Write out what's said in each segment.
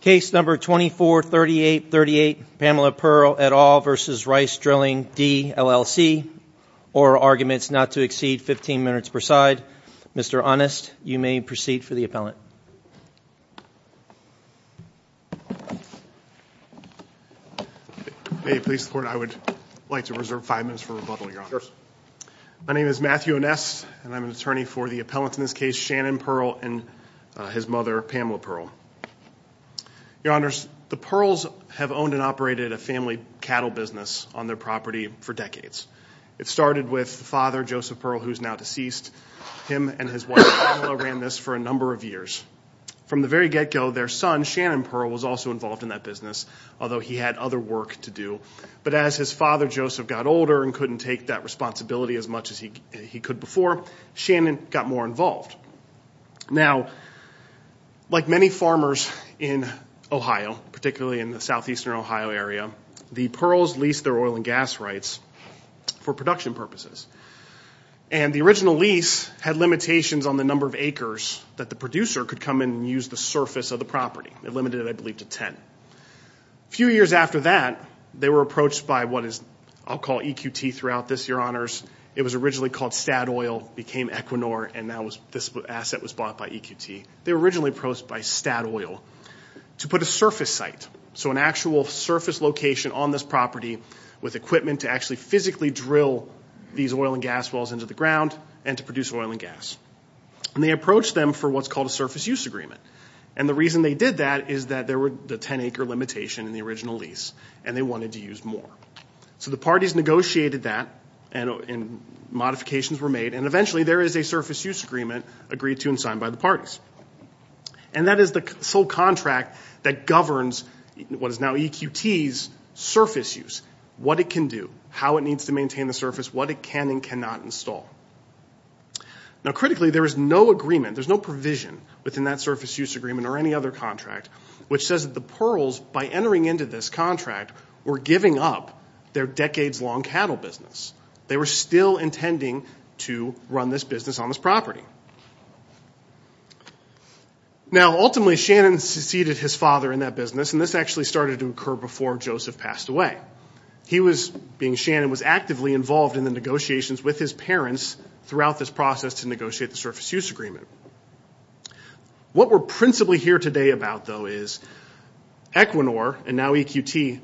Case number 243838, Pamela Pirl et al. v. Rice Drilling D LLC, or arguments not to exceed 15 minutes per side. Mr. Onest, you may proceed for the appellant. May it please the court, I would like to reserve five minutes for rebuttal, your honors. My name is Matthew Onest, and I'm an attorney for the appellant in this case, Shannon Pirl and his mother, Pamela Pirl. Your honors, the Pirls have owned and operated a family cattle business on their property for decades. It started with the father, Joseph Pirl, who's now deceased. Him and his wife, Pamela, ran this for a number of years. From the very get-go, their son, Shannon Pirl, was also involved in that business, although he had other work to do. But as his father, Joseph, got older and couldn't take that responsibility as much as he could before, Shannon got more involved. Now, like many farmers in Ohio, particularly in the southeastern Ohio area, the Pirls leased their oil and gas rights for production purposes. And the original lease had limitations on the number of acres that the producer could come in and use the surface of the property. It limited it, I believe, to 10. Few years after that, they were approached by what is, I'll call EQT throughout this, your honors. It was originally called Statoil, became Equinor, and now this asset was bought by EQT. They were originally approached by Statoil to put a surface site, so an actual surface location on this property with equipment to actually physically drill these oil and gas wells into the ground and to produce oil and gas. And they approached them for what's called a surface use agreement. And the reason they did that is that there were the 10-acre limitation in the original lease, and they wanted to use more. So the parties negotiated that, and modifications were made, and eventually there is a surface use agreement agreed to and signed by the parties. And that is the sole contract that governs what is now EQT's surface use, what it can do, how it needs to maintain the surface, what it can and cannot install. Now, critically, there is no agreement, there's no provision within that surface use agreement or any other contract, which says that the Pirls, by entering into this contract, were giving up their decades-long cattle business. They were still intending to run this business on this property. Now, ultimately, Shannon succeeded his father in that business, and this actually started to occur before Joseph passed away. He was, being Shannon, was actively involved in the negotiations with his parents throughout this process to negotiate the surface use agreement. What we're principally here today about, though, is Equinor, and now EQT,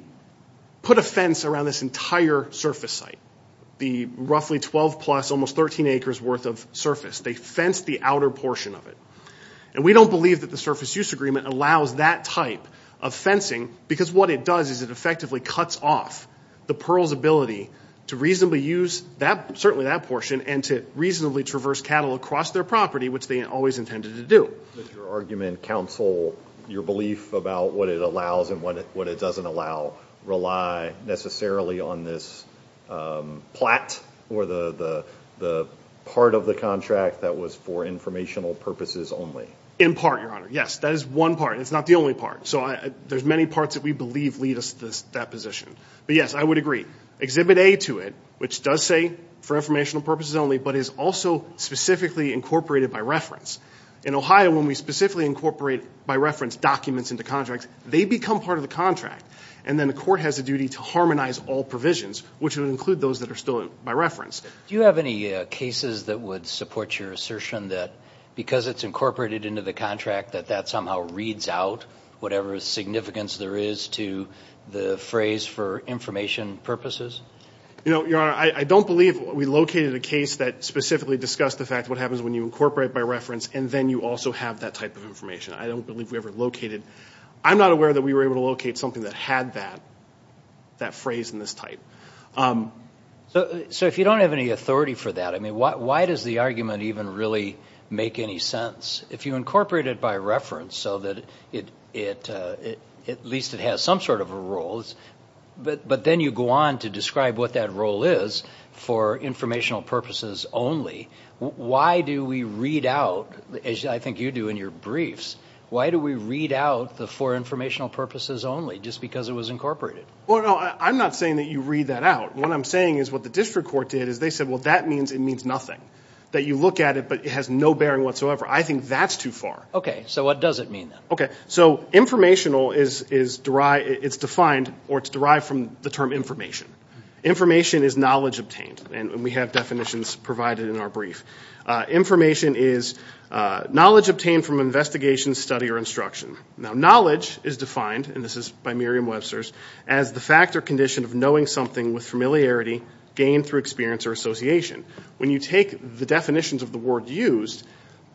put a fence around this entire surface site, the roughly 12-plus, almost 13-acres worth of surface. They fenced the outer portion of it. And we don't believe that the surface use agreement allows that type of fencing, because what it does is it effectively cuts off the Pirls' ability to reasonably use that, certainly that portion, and to reasonably traverse cattle across their property, which they always intended to do. Does your argument counsel your belief about what it allows and what it doesn't allow rely necessarily on this plat, or the part of the contract that was for informational purposes only? In part, Your Honor. Yes. That is one part. It's not the only part. So there's many parts that we believe lead us to that position. But yes, I would agree. Exhibit A to it, which does say, for informational purposes only, but is also specifically incorporated by reference. In Ohio, when we specifically incorporate, by reference, documents into contracts, they become part of the contract. And then the court has a duty to harmonize all provisions, which would include those that are still by reference. Do you have any cases that would support your assertion that because it's incorporated into the contract, that that somehow reads out whatever significance there is to the phrase for information purposes? You know, Your Honor, I don't believe we located a case that specifically discussed the fact what happens when you incorporate by reference, and then you also have that type of information. I don't believe we ever located. I'm not aware that we were able to locate something that had that phrase in this type. So if you don't have any authority for that, I mean, why does the argument even really make any sense? If you incorporate it by reference, so that at least it has some sort of a role, but then you go on to describe what that role is for informational purposes only, why do we read out, as I think you do in your briefs, why do we read out the for informational purposes only just because it was incorporated? Well, no, I'm not saying that you read that out. What I'm saying is what the district court did is they said, well, that means it means nothing. That you look at it, but it has no bearing whatsoever. I think that's too far. So what does it mean? Okay. So informational is derived, it's defined, or it's derived from the term information. Information is knowledge obtained, and we have definitions provided in our brief. Information is knowledge obtained from investigation, study, or instruction. Now knowledge is defined, and this is by Miriam Webster's, as the fact or condition of knowing something with familiarity gained through experience or association. When you take the definitions of the word used,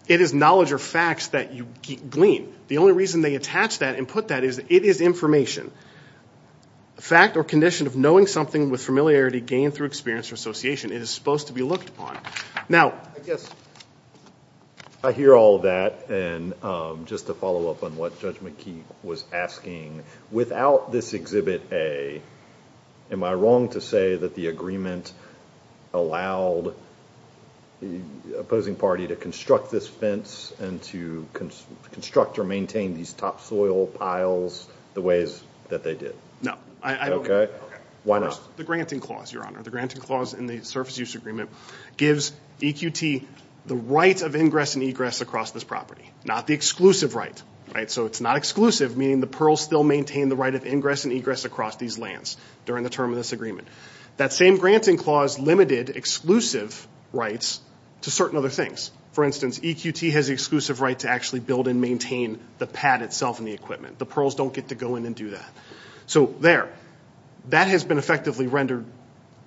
it is knowledge or facts that you glean. The only reason they attach that and put that is it is information. Fact or condition of knowing something with familiarity gained through experience or association, it is supposed to be looked upon. Now I guess I hear all of that, and just to follow up on what Judge McKee was asking, without this Exhibit A, am I wrong to say that the agreement allowed the opposing party to construct this fence and to construct or maintain these topsoil piles the ways that they did? No. Okay. Why not? The granting clause, Your Honor. The granting clause in the Surface Use Agreement gives EQT the right of ingress and egress across this property, not the exclusive right. So it is not exclusive, meaning the PEARLs still maintain the right of ingress and egress across these lands during the term of this agreement. That same granting clause limited exclusive rights to certain other things. For instance, EQT has the exclusive right to actually build and maintain the pad itself and the equipment. The PEARLs don't get to go in and do that. So there, that has been effectively rendered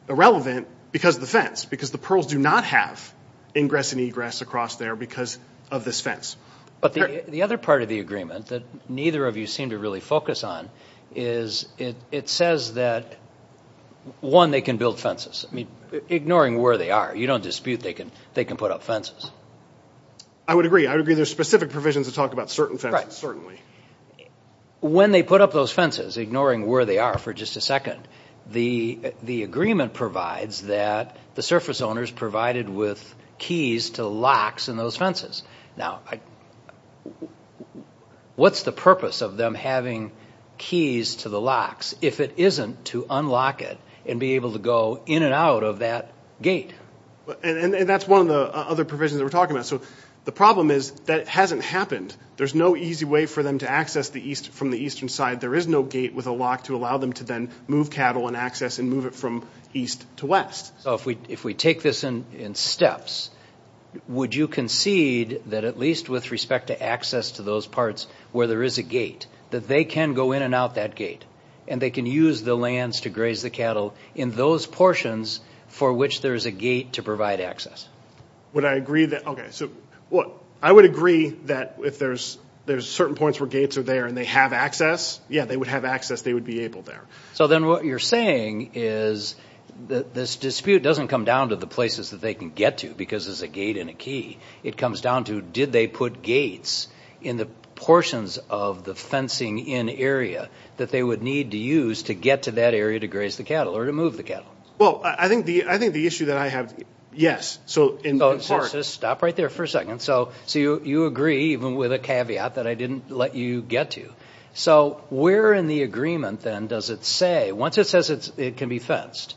irrelevant because of the fence, because the PEARLs do not have ingress and egress across there because of this fence. But the other part of the agreement that neither of you seem to really focus on is it says that, one, they can build fences, ignoring where they are. You don't dispute they can put up fences. I would agree. I would agree there's specific provisions that talk about certain fences, certainly. When they put up those fences, ignoring where they are for just a second, the agreement provides that the surface owners provided with keys to locks in those fences. Now, what's the purpose of them having keys to the locks if it isn't to unlock it and be able to go in and out of that gate? And that's one of the other provisions that we're talking about. So the problem is that hasn't happened. There's no easy way for them to access the east from the eastern side. There is no gate with a lock to allow them to then move cattle and access and move it from east to west. So if we take this in steps, would you concede that at least with respect to access to those parts where there is a gate, that they can go in and out that gate and they can use the lands to graze the cattle in those portions for which there is a gate to provide access? Would I agree that? Okay. So, look, I would agree that if there's certain points where gates are there and they have access, yeah, they would have access, they would be able there. So then what you're saying is that this dispute doesn't come down to the places that they can get to because there's a gate and a key. It comes down to did they put gates in the portions of the fencing-in area that they would need to use to get to that area to graze the cattle or to move the cattle? Well, I think the issue that I have, yes, so in part... Oh, just stop right there for a second. So you agree even with a caveat that I didn't let you get to. So where in the agreement then does it say, once it says it can be fenced,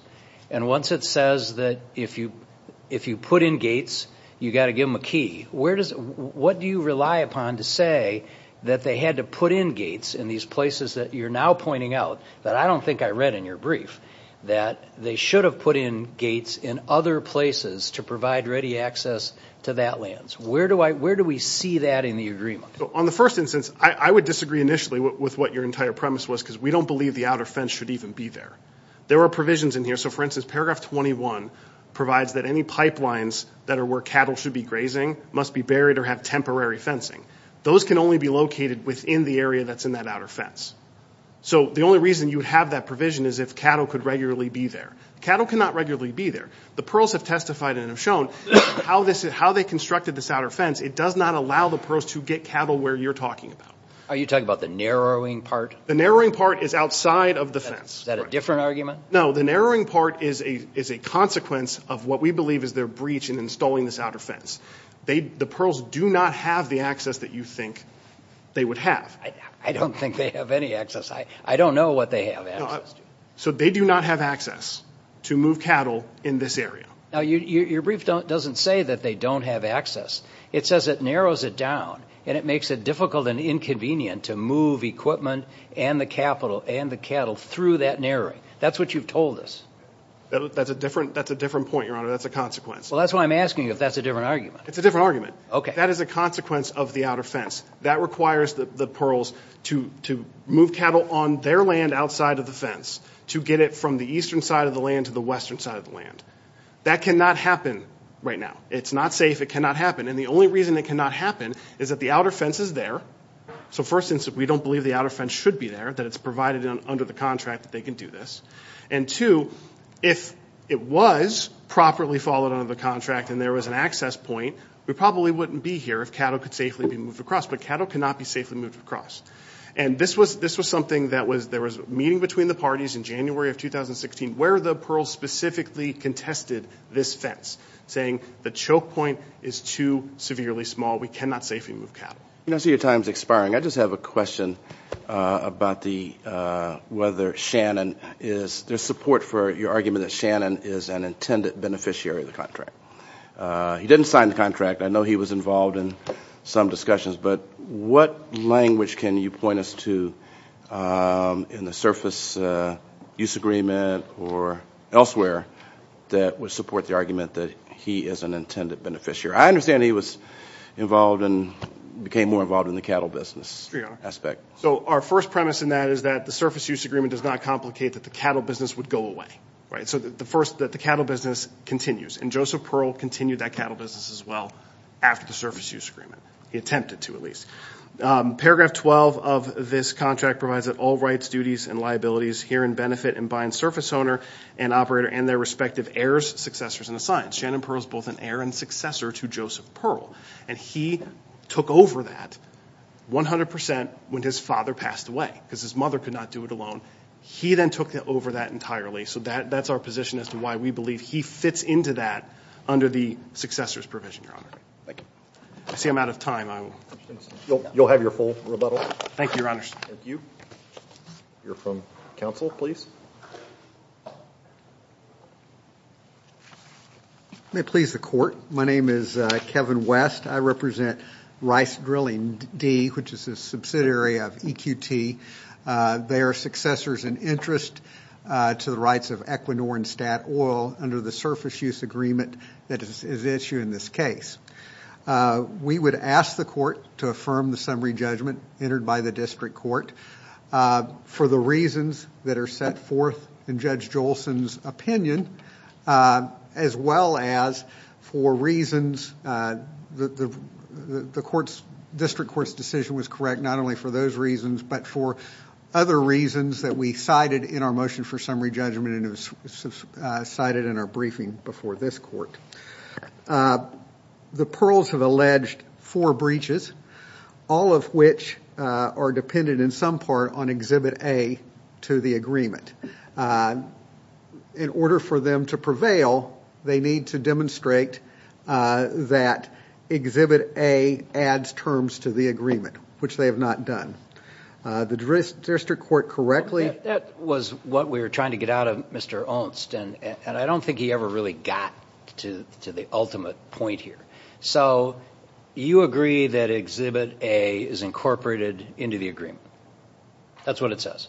and once it says that if you put in gates, you've got to give them a key, what do you rely upon to say that they had to put in gates in these places that you're now pointing out, that I don't think I read in your brief, that they should have put in gates in other places to provide ready access to that lands? Where do we see that in the agreement? On the first instance, I would disagree initially with what your entire premise was because we don't believe the outer fence should even be there. There are provisions in here. So for instance, paragraph 21 provides that any pipelines that are where cattle should be grazing must be buried or have temporary fencing. Those can only be located within the area that's in that outer fence. So the only reason you would have that provision is if cattle could regularly be there. Cattle cannot regularly be there. The Pearls have testified and have shown how they constructed this outer fence. It does not allow the Pearls to get cattle where you're talking about. Are you talking about the narrowing part? The narrowing part is outside of the fence. Is that a different argument? No, the narrowing part is a consequence of what we believe is their breach in installing this outer fence. The Pearls do not have the access that you think they would have. I don't think they have any access. I don't know what they have access to. So they do not have access to move cattle in this area. Your brief doesn't say that they don't have access. It says it narrows it down and it makes it difficult and inconvenient to move equipment and the capital and the cattle through that narrowing. That's what you've told us. That's a different point, Your Honor. That's a consequence. Well, that's why I'm asking you if that's a different argument. It's a different argument. Okay. That is a consequence of the outer fence. That requires the Pearls to move cattle on their land outside of the fence to get it from the eastern side of the land to the western side of the land. That cannot happen right now. It's not safe. It cannot happen. And the only reason it cannot happen is that the outer fence is there. So first, we don't believe the outer fence should be there, that it's provided under the contract that they can do this. And two, if it was properly followed under the contract and there was an access point, we probably wouldn't be here if cattle could safely be moved across. But cattle cannot be safely moved across. And this was something that was – there was a meeting between the parties in January of 2016 where the Pearls specifically contested this fence, saying the choke point is too severely small. We cannot safely move cattle. I see your time is expiring. I just have a question about the – whether Shannon is – there's support for your argument that Shannon is an intended beneficiary of the contract. He didn't sign the contract. I know he was involved in some discussions. But what language can you point us to in the surface use agreement or elsewhere that would support the argument that he is an intended beneficiary? I understand he was involved and became more involved in the cattle business aspect. So our first premise in that is that the surface use agreement does not complicate that the cattle business would go away, right? So the first – that the cattle business continues. And Joseph Pearl continued that cattle business as well after the surface use agreement. He attempted to, at least. Paragraph 12 of this contract provides that all rights, duties, and liabilities herein benefit and bind surface owner and operator and their respective heirs, successors, and Shannon Pearl is both an heir and successor to Joseph Pearl. And he took over that 100 percent when his father passed away because his mother could not do it alone. He then took over that entirely. So that's our position as to why we believe he fits into that under the successors provision, Your Honor. Thank you. I see I'm out of time. You'll have your full rebuttal. Thank you, Your Honor. Thank you. We'll hear from counsel, please. May it please the court. My name is Kevin West. I represent Rice Drilling, D., which is a subsidiary of EQT. They are successors in interest to the rights of Equinor and Statoil under the surface use agreement that is issued in this case. We would ask the court to affirm the summary judgment entered by the district court for the reasons that are set forth in Judge Jolson's opinion, as well as for reasons that the district court's decision was correct, not only for those reasons, but for other reasons that we cited in our motion for summary judgment and cited in our briefing before this court. The Pearls have alleged four breaches, all of which are dependent in some part on Exhibit A to the agreement. In order for them to prevail, they need to demonstrate that Exhibit A adds terms to the agreement, which they have not done. The district court correctly... That was what we were trying to get out of Mr. Olmst, and I don't think he ever really got to the ultimate point here. So you agree that Exhibit A is incorporated into the agreement. That's what it says.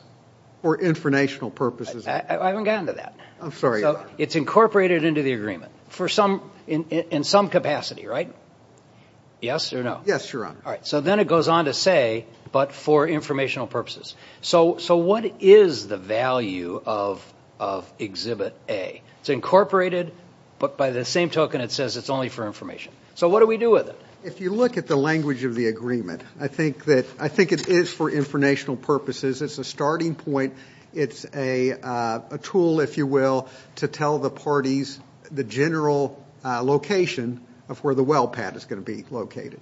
For informational purposes. I haven't gotten to that. It's incorporated into the agreement in some capacity, right? Yes or no? Yes, Your Honor. All right. So then it goes on to say, but for informational purposes. So what is the value of Exhibit A? It's incorporated, but by the same token, it says it's only for information. So what do we do with it? If you look at the language of the agreement, I think it is for informational purposes. It's a starting point. It's a tool, if you will, to tell the parties the general location of where the well pad is going to be located.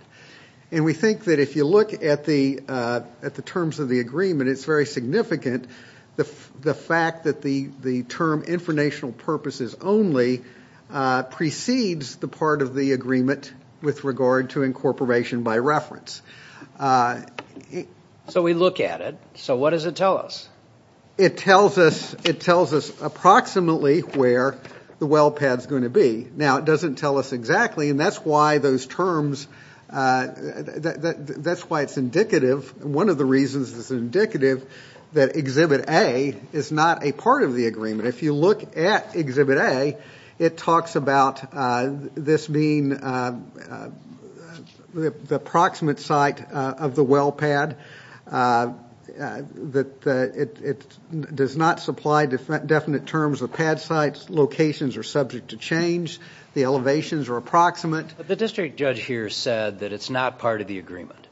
And we think that if you look at the terms of the agreement, it's very significant. The fact that the term informational purposes only precedes the part of the agreement with regard to incorporation by reference. So we look at it. So what does it tell us? It tells us approximately where the well pad is going to be. Now, it doesn't tell us exactly, and that's why those terms, that's why it's indicative. One of the reasons it's indicative that Exhibit A is not a part of the agreement. If you look at Exhibit A, it talks about this being the approximate site of the well pad. It does not supply definite terms of pad sites. Locations are subject to change. The elevations are approximate. The district judge here said that it's not part of the agreement.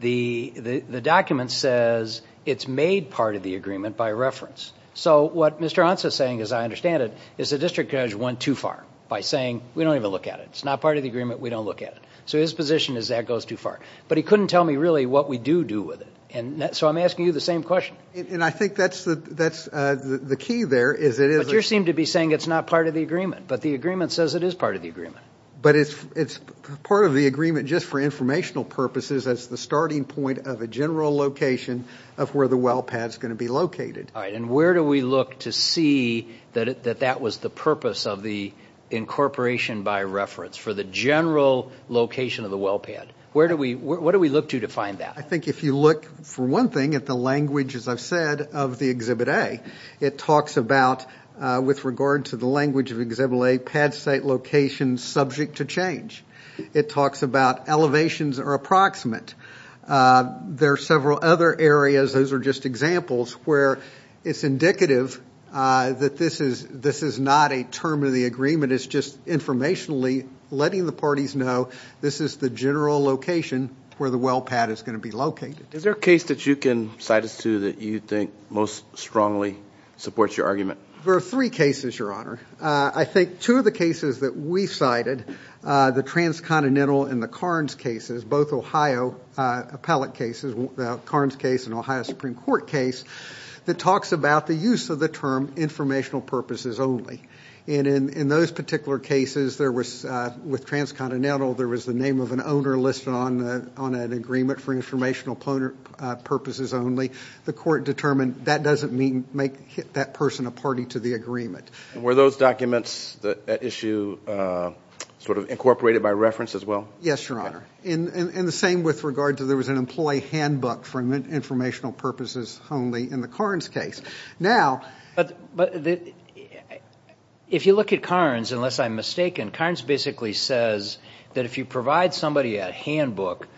The document says it's made part of the agreement by reference. So what Mr. Onsa is saying, as I understand it, is the district judge went too far by saying we don't even look at it. It's not part of the agreement. We don't look at it. So his position is that goes too far. But he couldn't tell me really what we do do with it. So I'm asking you the same question. And I think that's the key there is it is a... But you seem to be saying it's not part of the agreement. But the agreement says it is part of the agreement. But it's part of the agreement just for informational purposes as the starting point of a general location of where the well pad is going to be located. All right. And where do we look to see that that was the purpose of the incorporation by reference, for the general location of the well pad? What do we look to to find that? I think if you look, for one thing, at the language, as I've said, of the Exhibit A, it talks about, with regard to the language of Exhibit A, pad site locations subject to change. It talks about elevations are approximate. There are several other areas. Those are just examples where it's indicative that this is not a term of the agreement. It's just informationally letting the parties know this is the general location where the well pad is going to be located. Is there a case that you can cite us to that you think most strongly supports your argument? There are three cases, Your Honor. I think two of the cases that we cited, the Transcontinental and the Carnes cases, both Ohio appellate cases, the Carnes case and Ohio Supreme Court case, that talks about the use of the term informational purposes only. In those particular cases, with Transcontinental, there was the name of an owner listed on an agreement for informational purposes only. The court determined that doesn't make that person a party to the agreement. Were those documents, that issue, sort of incorporated by reference as well? Yes, Your Honor. And the same with regard to there was an employee handbook for informational purposes only in the Carnes case. But if you look at Carnes, unless I'm mistaken, Carnes basically says that if you provide somebody a handbook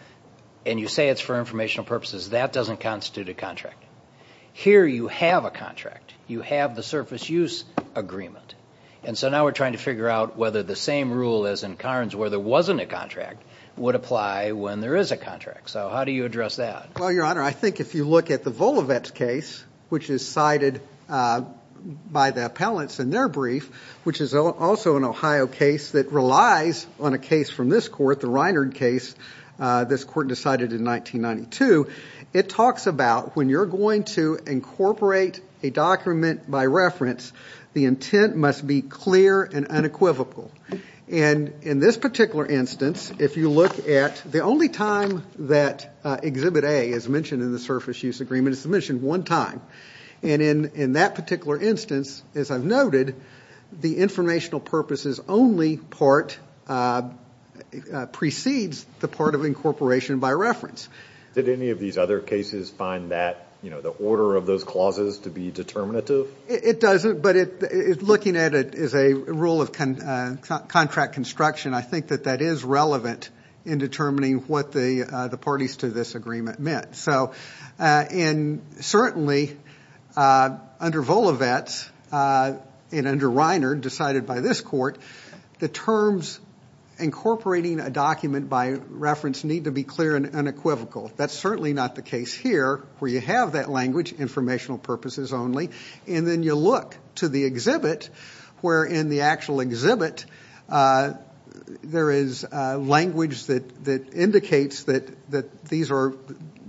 and you say it's for informational purposes, that doesn't constitute a contract. Here you have a contract. You have the surface use agreement. And so now we're trying to figure out whether the same rule as in Carnes where there wasn't a contract would apply when there is a contract. So how do you address that? Well, Your Honor, I think if you look at the Volovets case, which is cited by the appellants in their brief, which is also an Ohio case that relies on a case from this court, the Reinerd case, this court decided in 1992, it talks about when you're going to incorporate a document by reference, the intent must be clear and unequivocal. And in this particular instance, if you look at the only time that Exhibit A is mentioned in the surface use agreement, it's mentioned one time. And in that particular instance, as I've noted, the informational purposes only part precedes the part of incorporation by reference. Did any of these other cases find that, you know, the order of those clauses to be determinative? It doesn't, but looking at it as a rule of contract construction, I think that that is relevant in determining what the parties to this agreement meant. So and certainly under Volovets and under Reinerd decided by this court, the terms incorporating a document by reference need to be clear and unequivocal. That's certainly not the case here where you have that language, informational purposes only, and then you look to the exhibit where in the actual exhibit there is language that indicates that these are,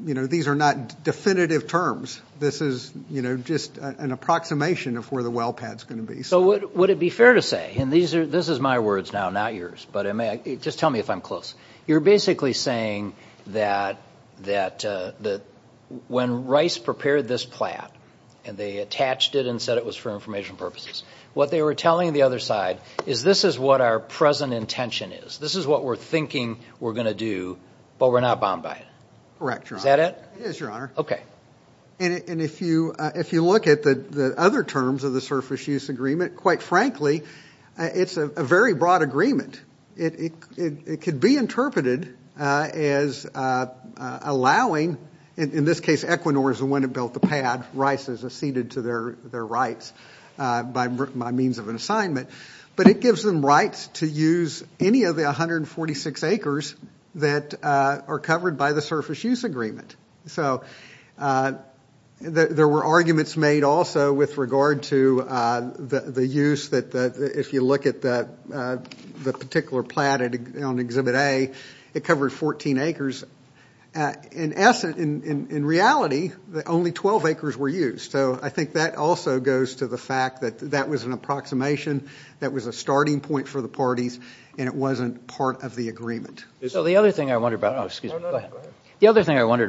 you know, these are not definitive terms. This is, you know, just an approximation of where the well pad's going to be. So would it be fair to say, and this is my words now, not yours, but just tell me if I'm close. You're basically saying that when Rice prepared this plat and they attached it and said it was for informational purposes, what they were telling the other side is this is what our present intention is. This is what we're thinking we're going to do, but we're not bound by it. Correct, Your Honor. Is that it? It is, Your Honor. Okay. And if you look at the other terms of the surface use agreement, quite frankly, it's a very broad agreement. It could be interpreted as allowing, in this case, Equinor is the one that built the pad, Rice is acceded to their rights by means of an assignment, but it gives them rights to use any of the 146 acres that are covered by the surface use agreement. So there were arguments made also with regard to the use that if you look at the particular plat on Exhibit A, it covered 14 acres. In essence, in reality, only 12 acres were used. So I think that also goes to the fact that that was an approximation, that was a starting point for the parties, and it wasn't part of the agreement. The other thing I wondered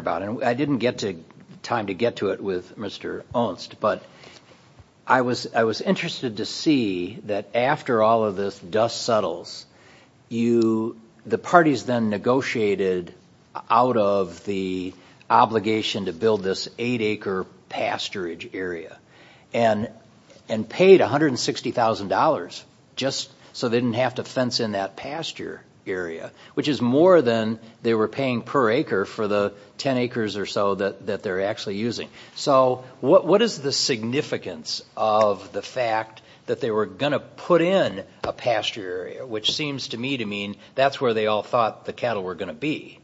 about, and I didn't get to the time to get to it with Mr. Onst, but I was interested to see that after all of this dust settles, the parties then negotiated out of the obligation to build this eight acre pasturage area and paid $160,000 just so they didn't have to fence in that pasture area, which is more than they were paying per acre for the 10 acres or so that they're actually using. So what is the significance of the fact that they were going to put in a pasture area, which seems to me to mean that's where they all thought the cattle were going to be?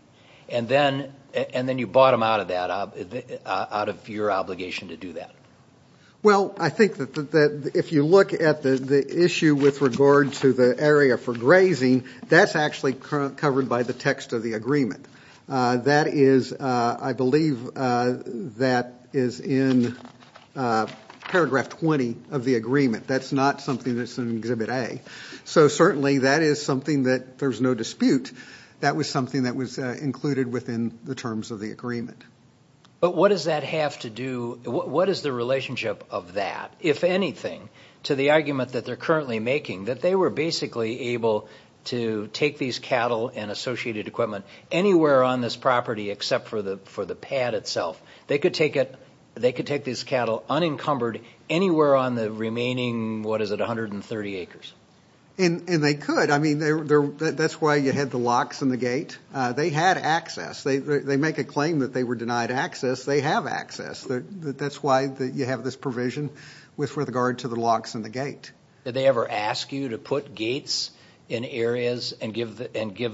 And then you bought them out of that, out of your obligation to do that. Well, I think that if you look at the issue with regard to the area for grazing, that's actually covered by the text of the agreement. That is, I believe, that is in paragraph 20 of the agreement. That's not something that's in Exhibit A. So certainly that is something that there's no dispute. That was something that was included within the terms of the agreement. But what does that have to do, what is the relationship of that, if anything, to the argument that they're currently making, that they were basically able to take these cattle and associated equipment anywhere on this property except for the pad itself? They could take it, they could take these cattle unencumbered anywhere on the remaining, what is it, 130 acres? And they could. I mean, that's why you had the locks in the gate. They had access. They make a claim that they were denied access. They have access. That's why you have this provision with regard to the locks in the gate. Did they ever ask you to put gates in areas and give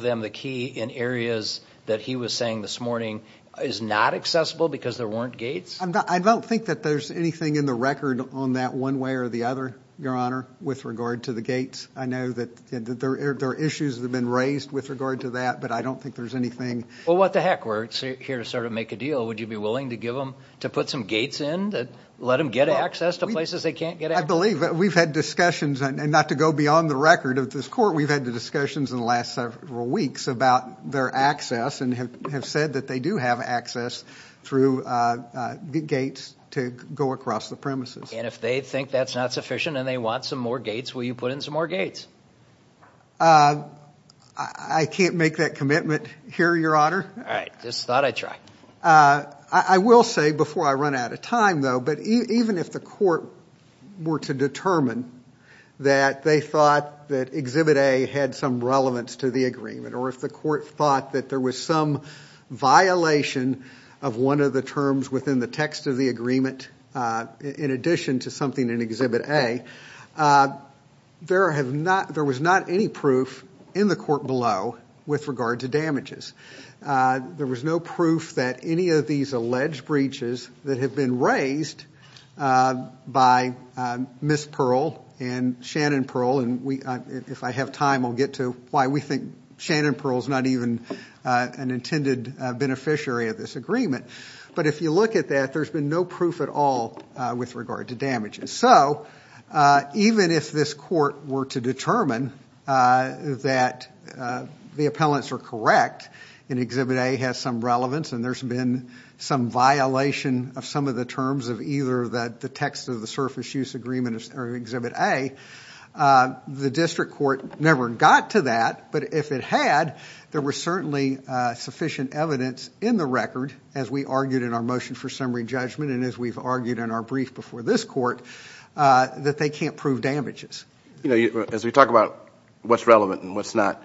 them the key in areas that he was saying this morning is not accessible because there weren't gates? I don't think that there's anything in the record on that one way or the other, Your Honor, with regard to the gates. I know that there are issues that have been raised with regard to that, but I don't think there's anything. Well, what the heck? We're here to sort of make a deal. Would you be willing to give them, to put some gates in, let them get access to places they can't get access to? I believe, we've had discussions, and not to go beyond the record of this court, we've had discussions in the last several weeks about their access and have said that they do have access through gates to go across the premises. And if they think that's not sufficient and they want some more gates, will you put in some more gates? I can't make that commitment. Here, Your Honor. Just thought I'd try. I will say, before I run out of time, though, but even if the court were to determine that they thought that Exhibit A had some relevance to the agreement, or if the court thought that there was some violation of one of the terms within the text of the agreement in addition to something in Exhibit A, there was not any proof in the court below with regard to damages. There was no proof that any of these alleged breaches that have been raised by Ms. Pearl and Shannon Pearl, and if I have time, I'll get to why we think Shannon Pearl is not even an intended beneficiary of this agreement. But if you look at that, there's been no proof at all with regard to damages. And so, even if this court were to determine that the appellants are correct and Exhibit A has some relevance and there's been some violation of some of the terms of either the text of the surface use agreement or Exhibit A, the district court never got to that. But if it had, there was certainly sufficient evidence in the record, as we argued in our motion for summary judgment and as we've argued in our brief before this court, that they can't prove damages. You know, as we talk about what's relevant and what's not,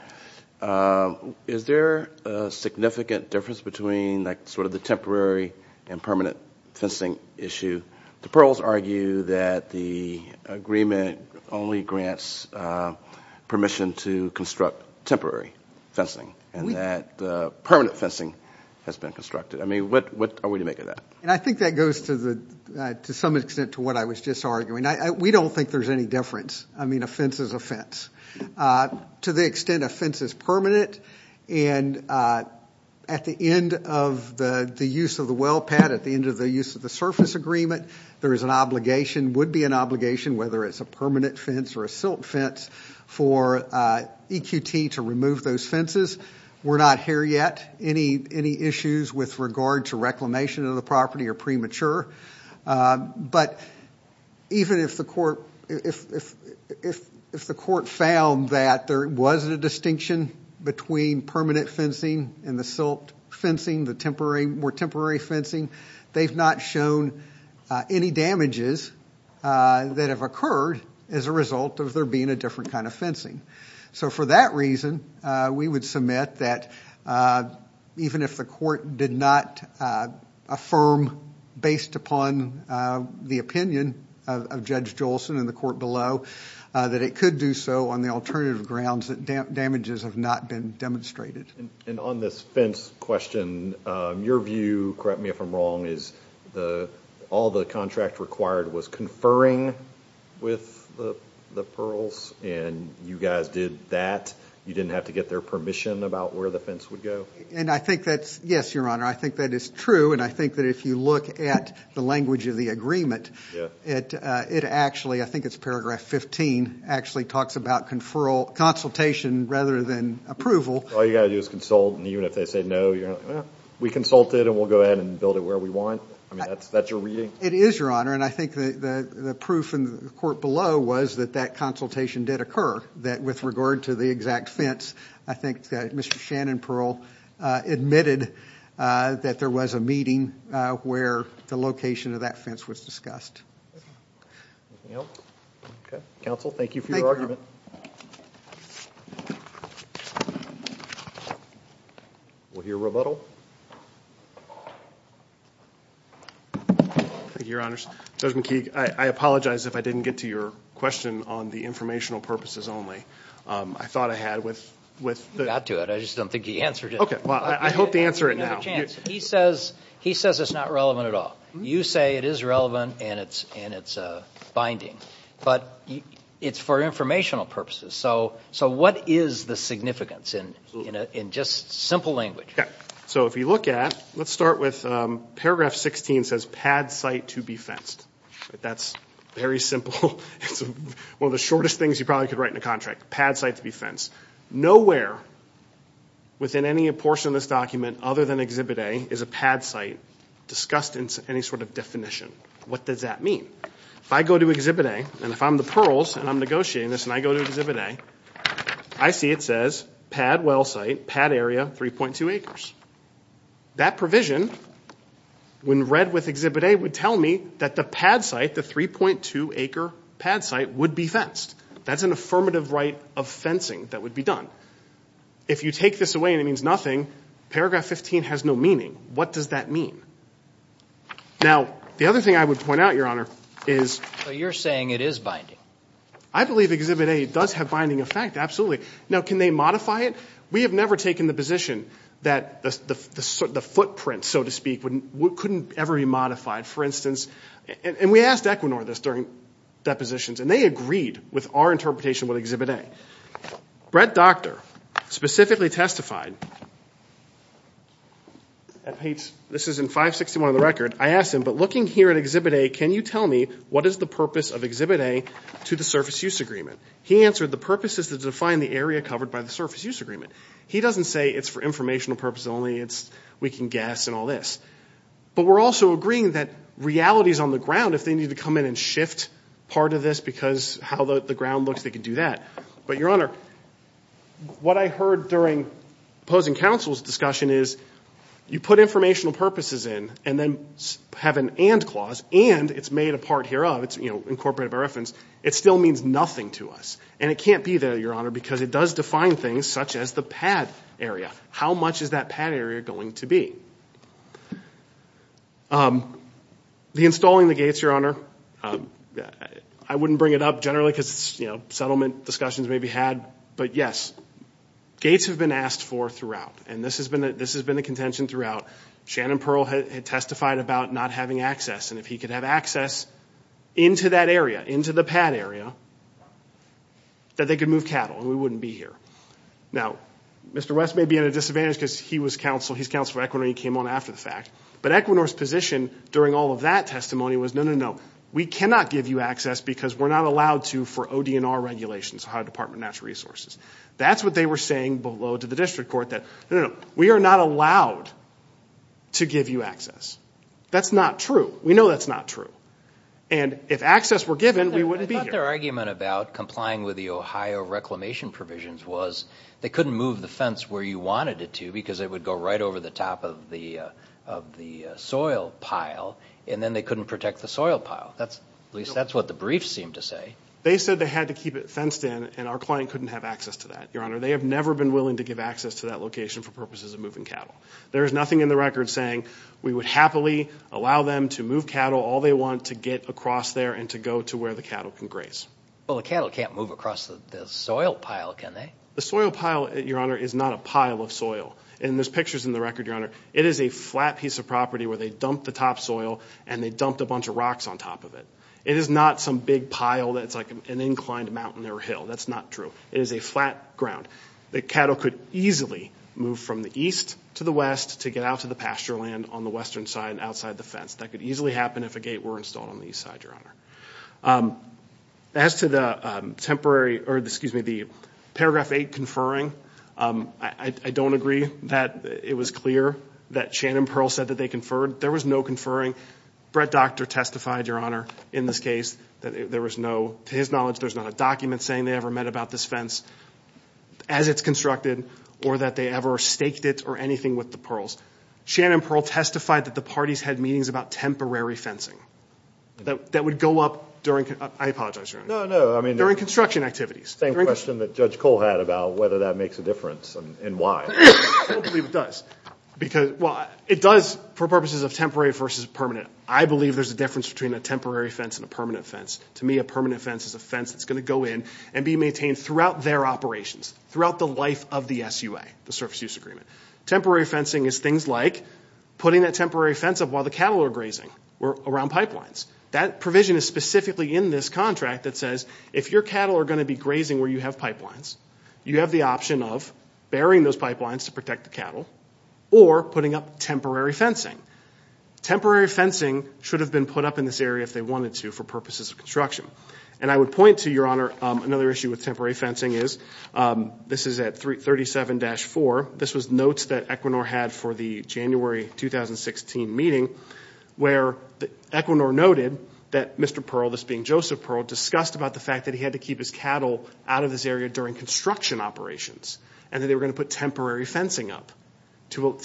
is there a significant difference between sort of the temporary and permanent fencing issue? The Pearls argue that the agreement only grants permission to construct temporary fencing and that permanent fencing has been constructed. I mean, what are we to make of that? And I think that goes to some extent to what I was just arguing. We don't think there's any difference. I mean, a fence is a fence. To the extent a fence is permanent and at the end of the use of the well pad, at the end of the use of the surface agreement, there is an obligation, would be an obligation, whether it's a permanent fence or a silt fence, for EQT to remove those fences. We're not here yet. Any issues with regard to reclamation of the property are premature. But even if the court found that there was a distinction between permanent fencing and the silt fencing, the temporary, more temporary fencing, they've not shown any damages that have occurred as a result of there being a different kind of fencing. So for that reason, we would submit that even if the court did not affirm, based upon the opinion of Judge Jolson and the court below, that it could do so on the alternative grounds that damages have not been demonstrated. And on this fence question, your view, correct me if I'm wrong, is all the contract required was conferring with the Pearls and you guys did that? You didn't have to get their permission about where the fence would go? And I think that's, yes, your honor, I think that is true. And I think that if you look at the language of the agreement, it actually, I think it's paragraph 15, actually talks about conferral, consultation rather than approval. All you got to do is consult. And even if they say no, we consulted and we'll go ahead and build it where we want. I mean, that's your reading? It is, your honor. And I think that the proof in the court below was that that consultation did occur, that with regard to the exact fence, I think that Mr. Shannon Pearl admitted that there was a meeting where the location of that fence was discussed. Counsel, thank you for your argument. We'll hear rebuttal. Thank you, your honors. Judge McKeague, I apologize if I didn't get to your question on the informational purposes only. I thought I had with the... You got to it. I just don't think he answered it. Okay. Well, I hope to answer it now. He says it's not relevant at all. You say it is relevant and it's binding, but it's for informational purposes. So what is the significance in just simple language? So if you look at, let's start with paragraph 16 says pad site to be fenced. That's very simple. It's one of the shortest things you probably could write in a contract, pad site to be fenced. Nowhere within any portion of this document other than exhibit A is a pad site discussed in any sort of definition. What does that mean? If I go to exhibit A and if I'm the Pearls and I'm negotiating this and I go to exhibit A, I see it says pad well site, pad area, 3.2 acres. That provision when read with exhibit A would tell me that the pad site, the 3.2 acre pad site would be fenced. That's an affirmative right of fencing that would be done. If you take this away and it means nothing, paragraph 15 has no meaning. What does that mean? Now, the other thing I would point out, Your Honor, is... So you're saying it is binding. I believe exhibit A does have binding effect. Absolutely. Now, can they modify it? We have never taken the position that the footprint, so to speak, couldn't ever be modified. For instance, and we asked Equinor this during depositions and they agreed with our interpretation with exhibit A. Brett Docter specifically testified, this is in 561 of the record, I asked him, but looking here at exhibit A, can you tell me what is the purpose of exhibit A to the surface use agreement? He answered the purpose is to define the area covered by the surface use agreement. He doesn't say it's for informational purposes only, it's we can guess and all this. But we're also agreeing that reality is on the ground if they need to come in and shift part of this because how the ground looks, they can do that. But, Your Honor, what I heard during opposing counsel's discussion is you put informational purposes in and then have an and clause and it's made a part here of, it's incorporated by reference, it still means nothing to us and it can't be there, Your Honor, because it does define things such as the pad area. How much is that pad area going to be? The installing the gates, Your Honor, I wouldn't bring it up generally because, you know, settlement discussions may be had, but yes, gates have been asked for throughout and this has been the contention throughout. Shannon Pearl had testified about not having access and if he could have access into that area, into the pad area, that they could move cattle and we wouldn't be here. Now, Mr. West may be at a disadvantage because he was counsel, he's counsel for Equinor and he came on after the fact. But Equinor's position during all of that testimony was, no, no, no, we cannot give you access because we're not allowed to for OD and R regulations, Ohio Department of Natural Resources. That's what they were saying below to the district court that, no, no, no, we are not allowed to give you access. That's not true. We know that's not true. And if access were given, we wouldn't be here. I thought their argument about complying with the Ohio reclamation provisions was they couldn't move the fence where you wanted it to because it would go right over the top of the soil pile and then they couldn't protect the soil pile. At least that's what the briefs seem to say. They said they had to keep it fenced in and our client couldn't have access to that. Your Honor, they have never been willing to give access to that location for purposes of moving cattle. There is nothing in the record saying we would happily allow them to move cattle all they want to get across there and to go to where the cattle can graze. Well, the cattle can't move across the soil pile, can they? The soil pile, Your Honor, is not a pile of soil. And there's pictures in the record, Your Honor, it is a flat piece of property where they dumped the top soil and they dumped a bunch of rocks on top of it. It is not some big pile that's like an inclined mountain or hill. That's not true. It is a flat ground. The cattle could easily move from the east to the west to get out to the pasture land on the western side outside the fence. That could easily happen if a gate were installed on the east side, Your Honor. As to the temporary, or excuse me, the paragraph 8 conferring, I don't agree that it was clear that Shannon Pearl said that they conferred. There was no conferring. Brett Docter testified, Your Honor, in this case that there was no, to his knowledge, there's not a document saying they ever met about this fence as it's constructed or that they ever staked it or anything with the Pearls. Shannon Pearl testified that the parties had meetings about temporary fencing that would go up during, I apologize, Your Honor. No, no, I mean. During construction activities. Same question that Judge Cole had about whether that makes a difference and why. I don't believe it does because, well, it does for purposes of temporary versus permanent. I believe there's a difference between a temporary fence and a permanent fence. To me, a permanent fence is a fence that's going to go in and be maintained throughout their operations, throughout the life of the SUA, the Surface Use Agreement. Temporary fencing is things like putting that temporary fence up while the cattle are grazing around pipelines. That provision is specifically in this contract that says if your cattle are going to be grazing where you have pipelines, you have the option of burying those pipelines to protect the cattle or putting up temporary fencing. Temporary fencing should have been put up in this area if they wanted to for purposes of construction. And I would point to, Your Honor, another issue with temporary fencing is, this is at 37-4. This was notes that Equinor had for the January 2016 meeting where Equinor noted that Mr. Pearl, this being Joseph Pearl, discussed about the fact that he had to keep his cattle out of this area during construction operations and that they were going to put temporary fencing up to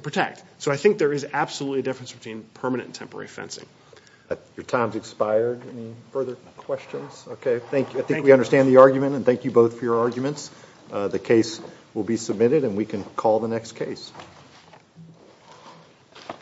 protect. So I think there is absolutely a difference between permanent and temporary fencing. Your time's expired. Any further questions? Okay, thank you. I think we understand the argument and thank you both for your arguments. The case will be submitted and we can call the next case.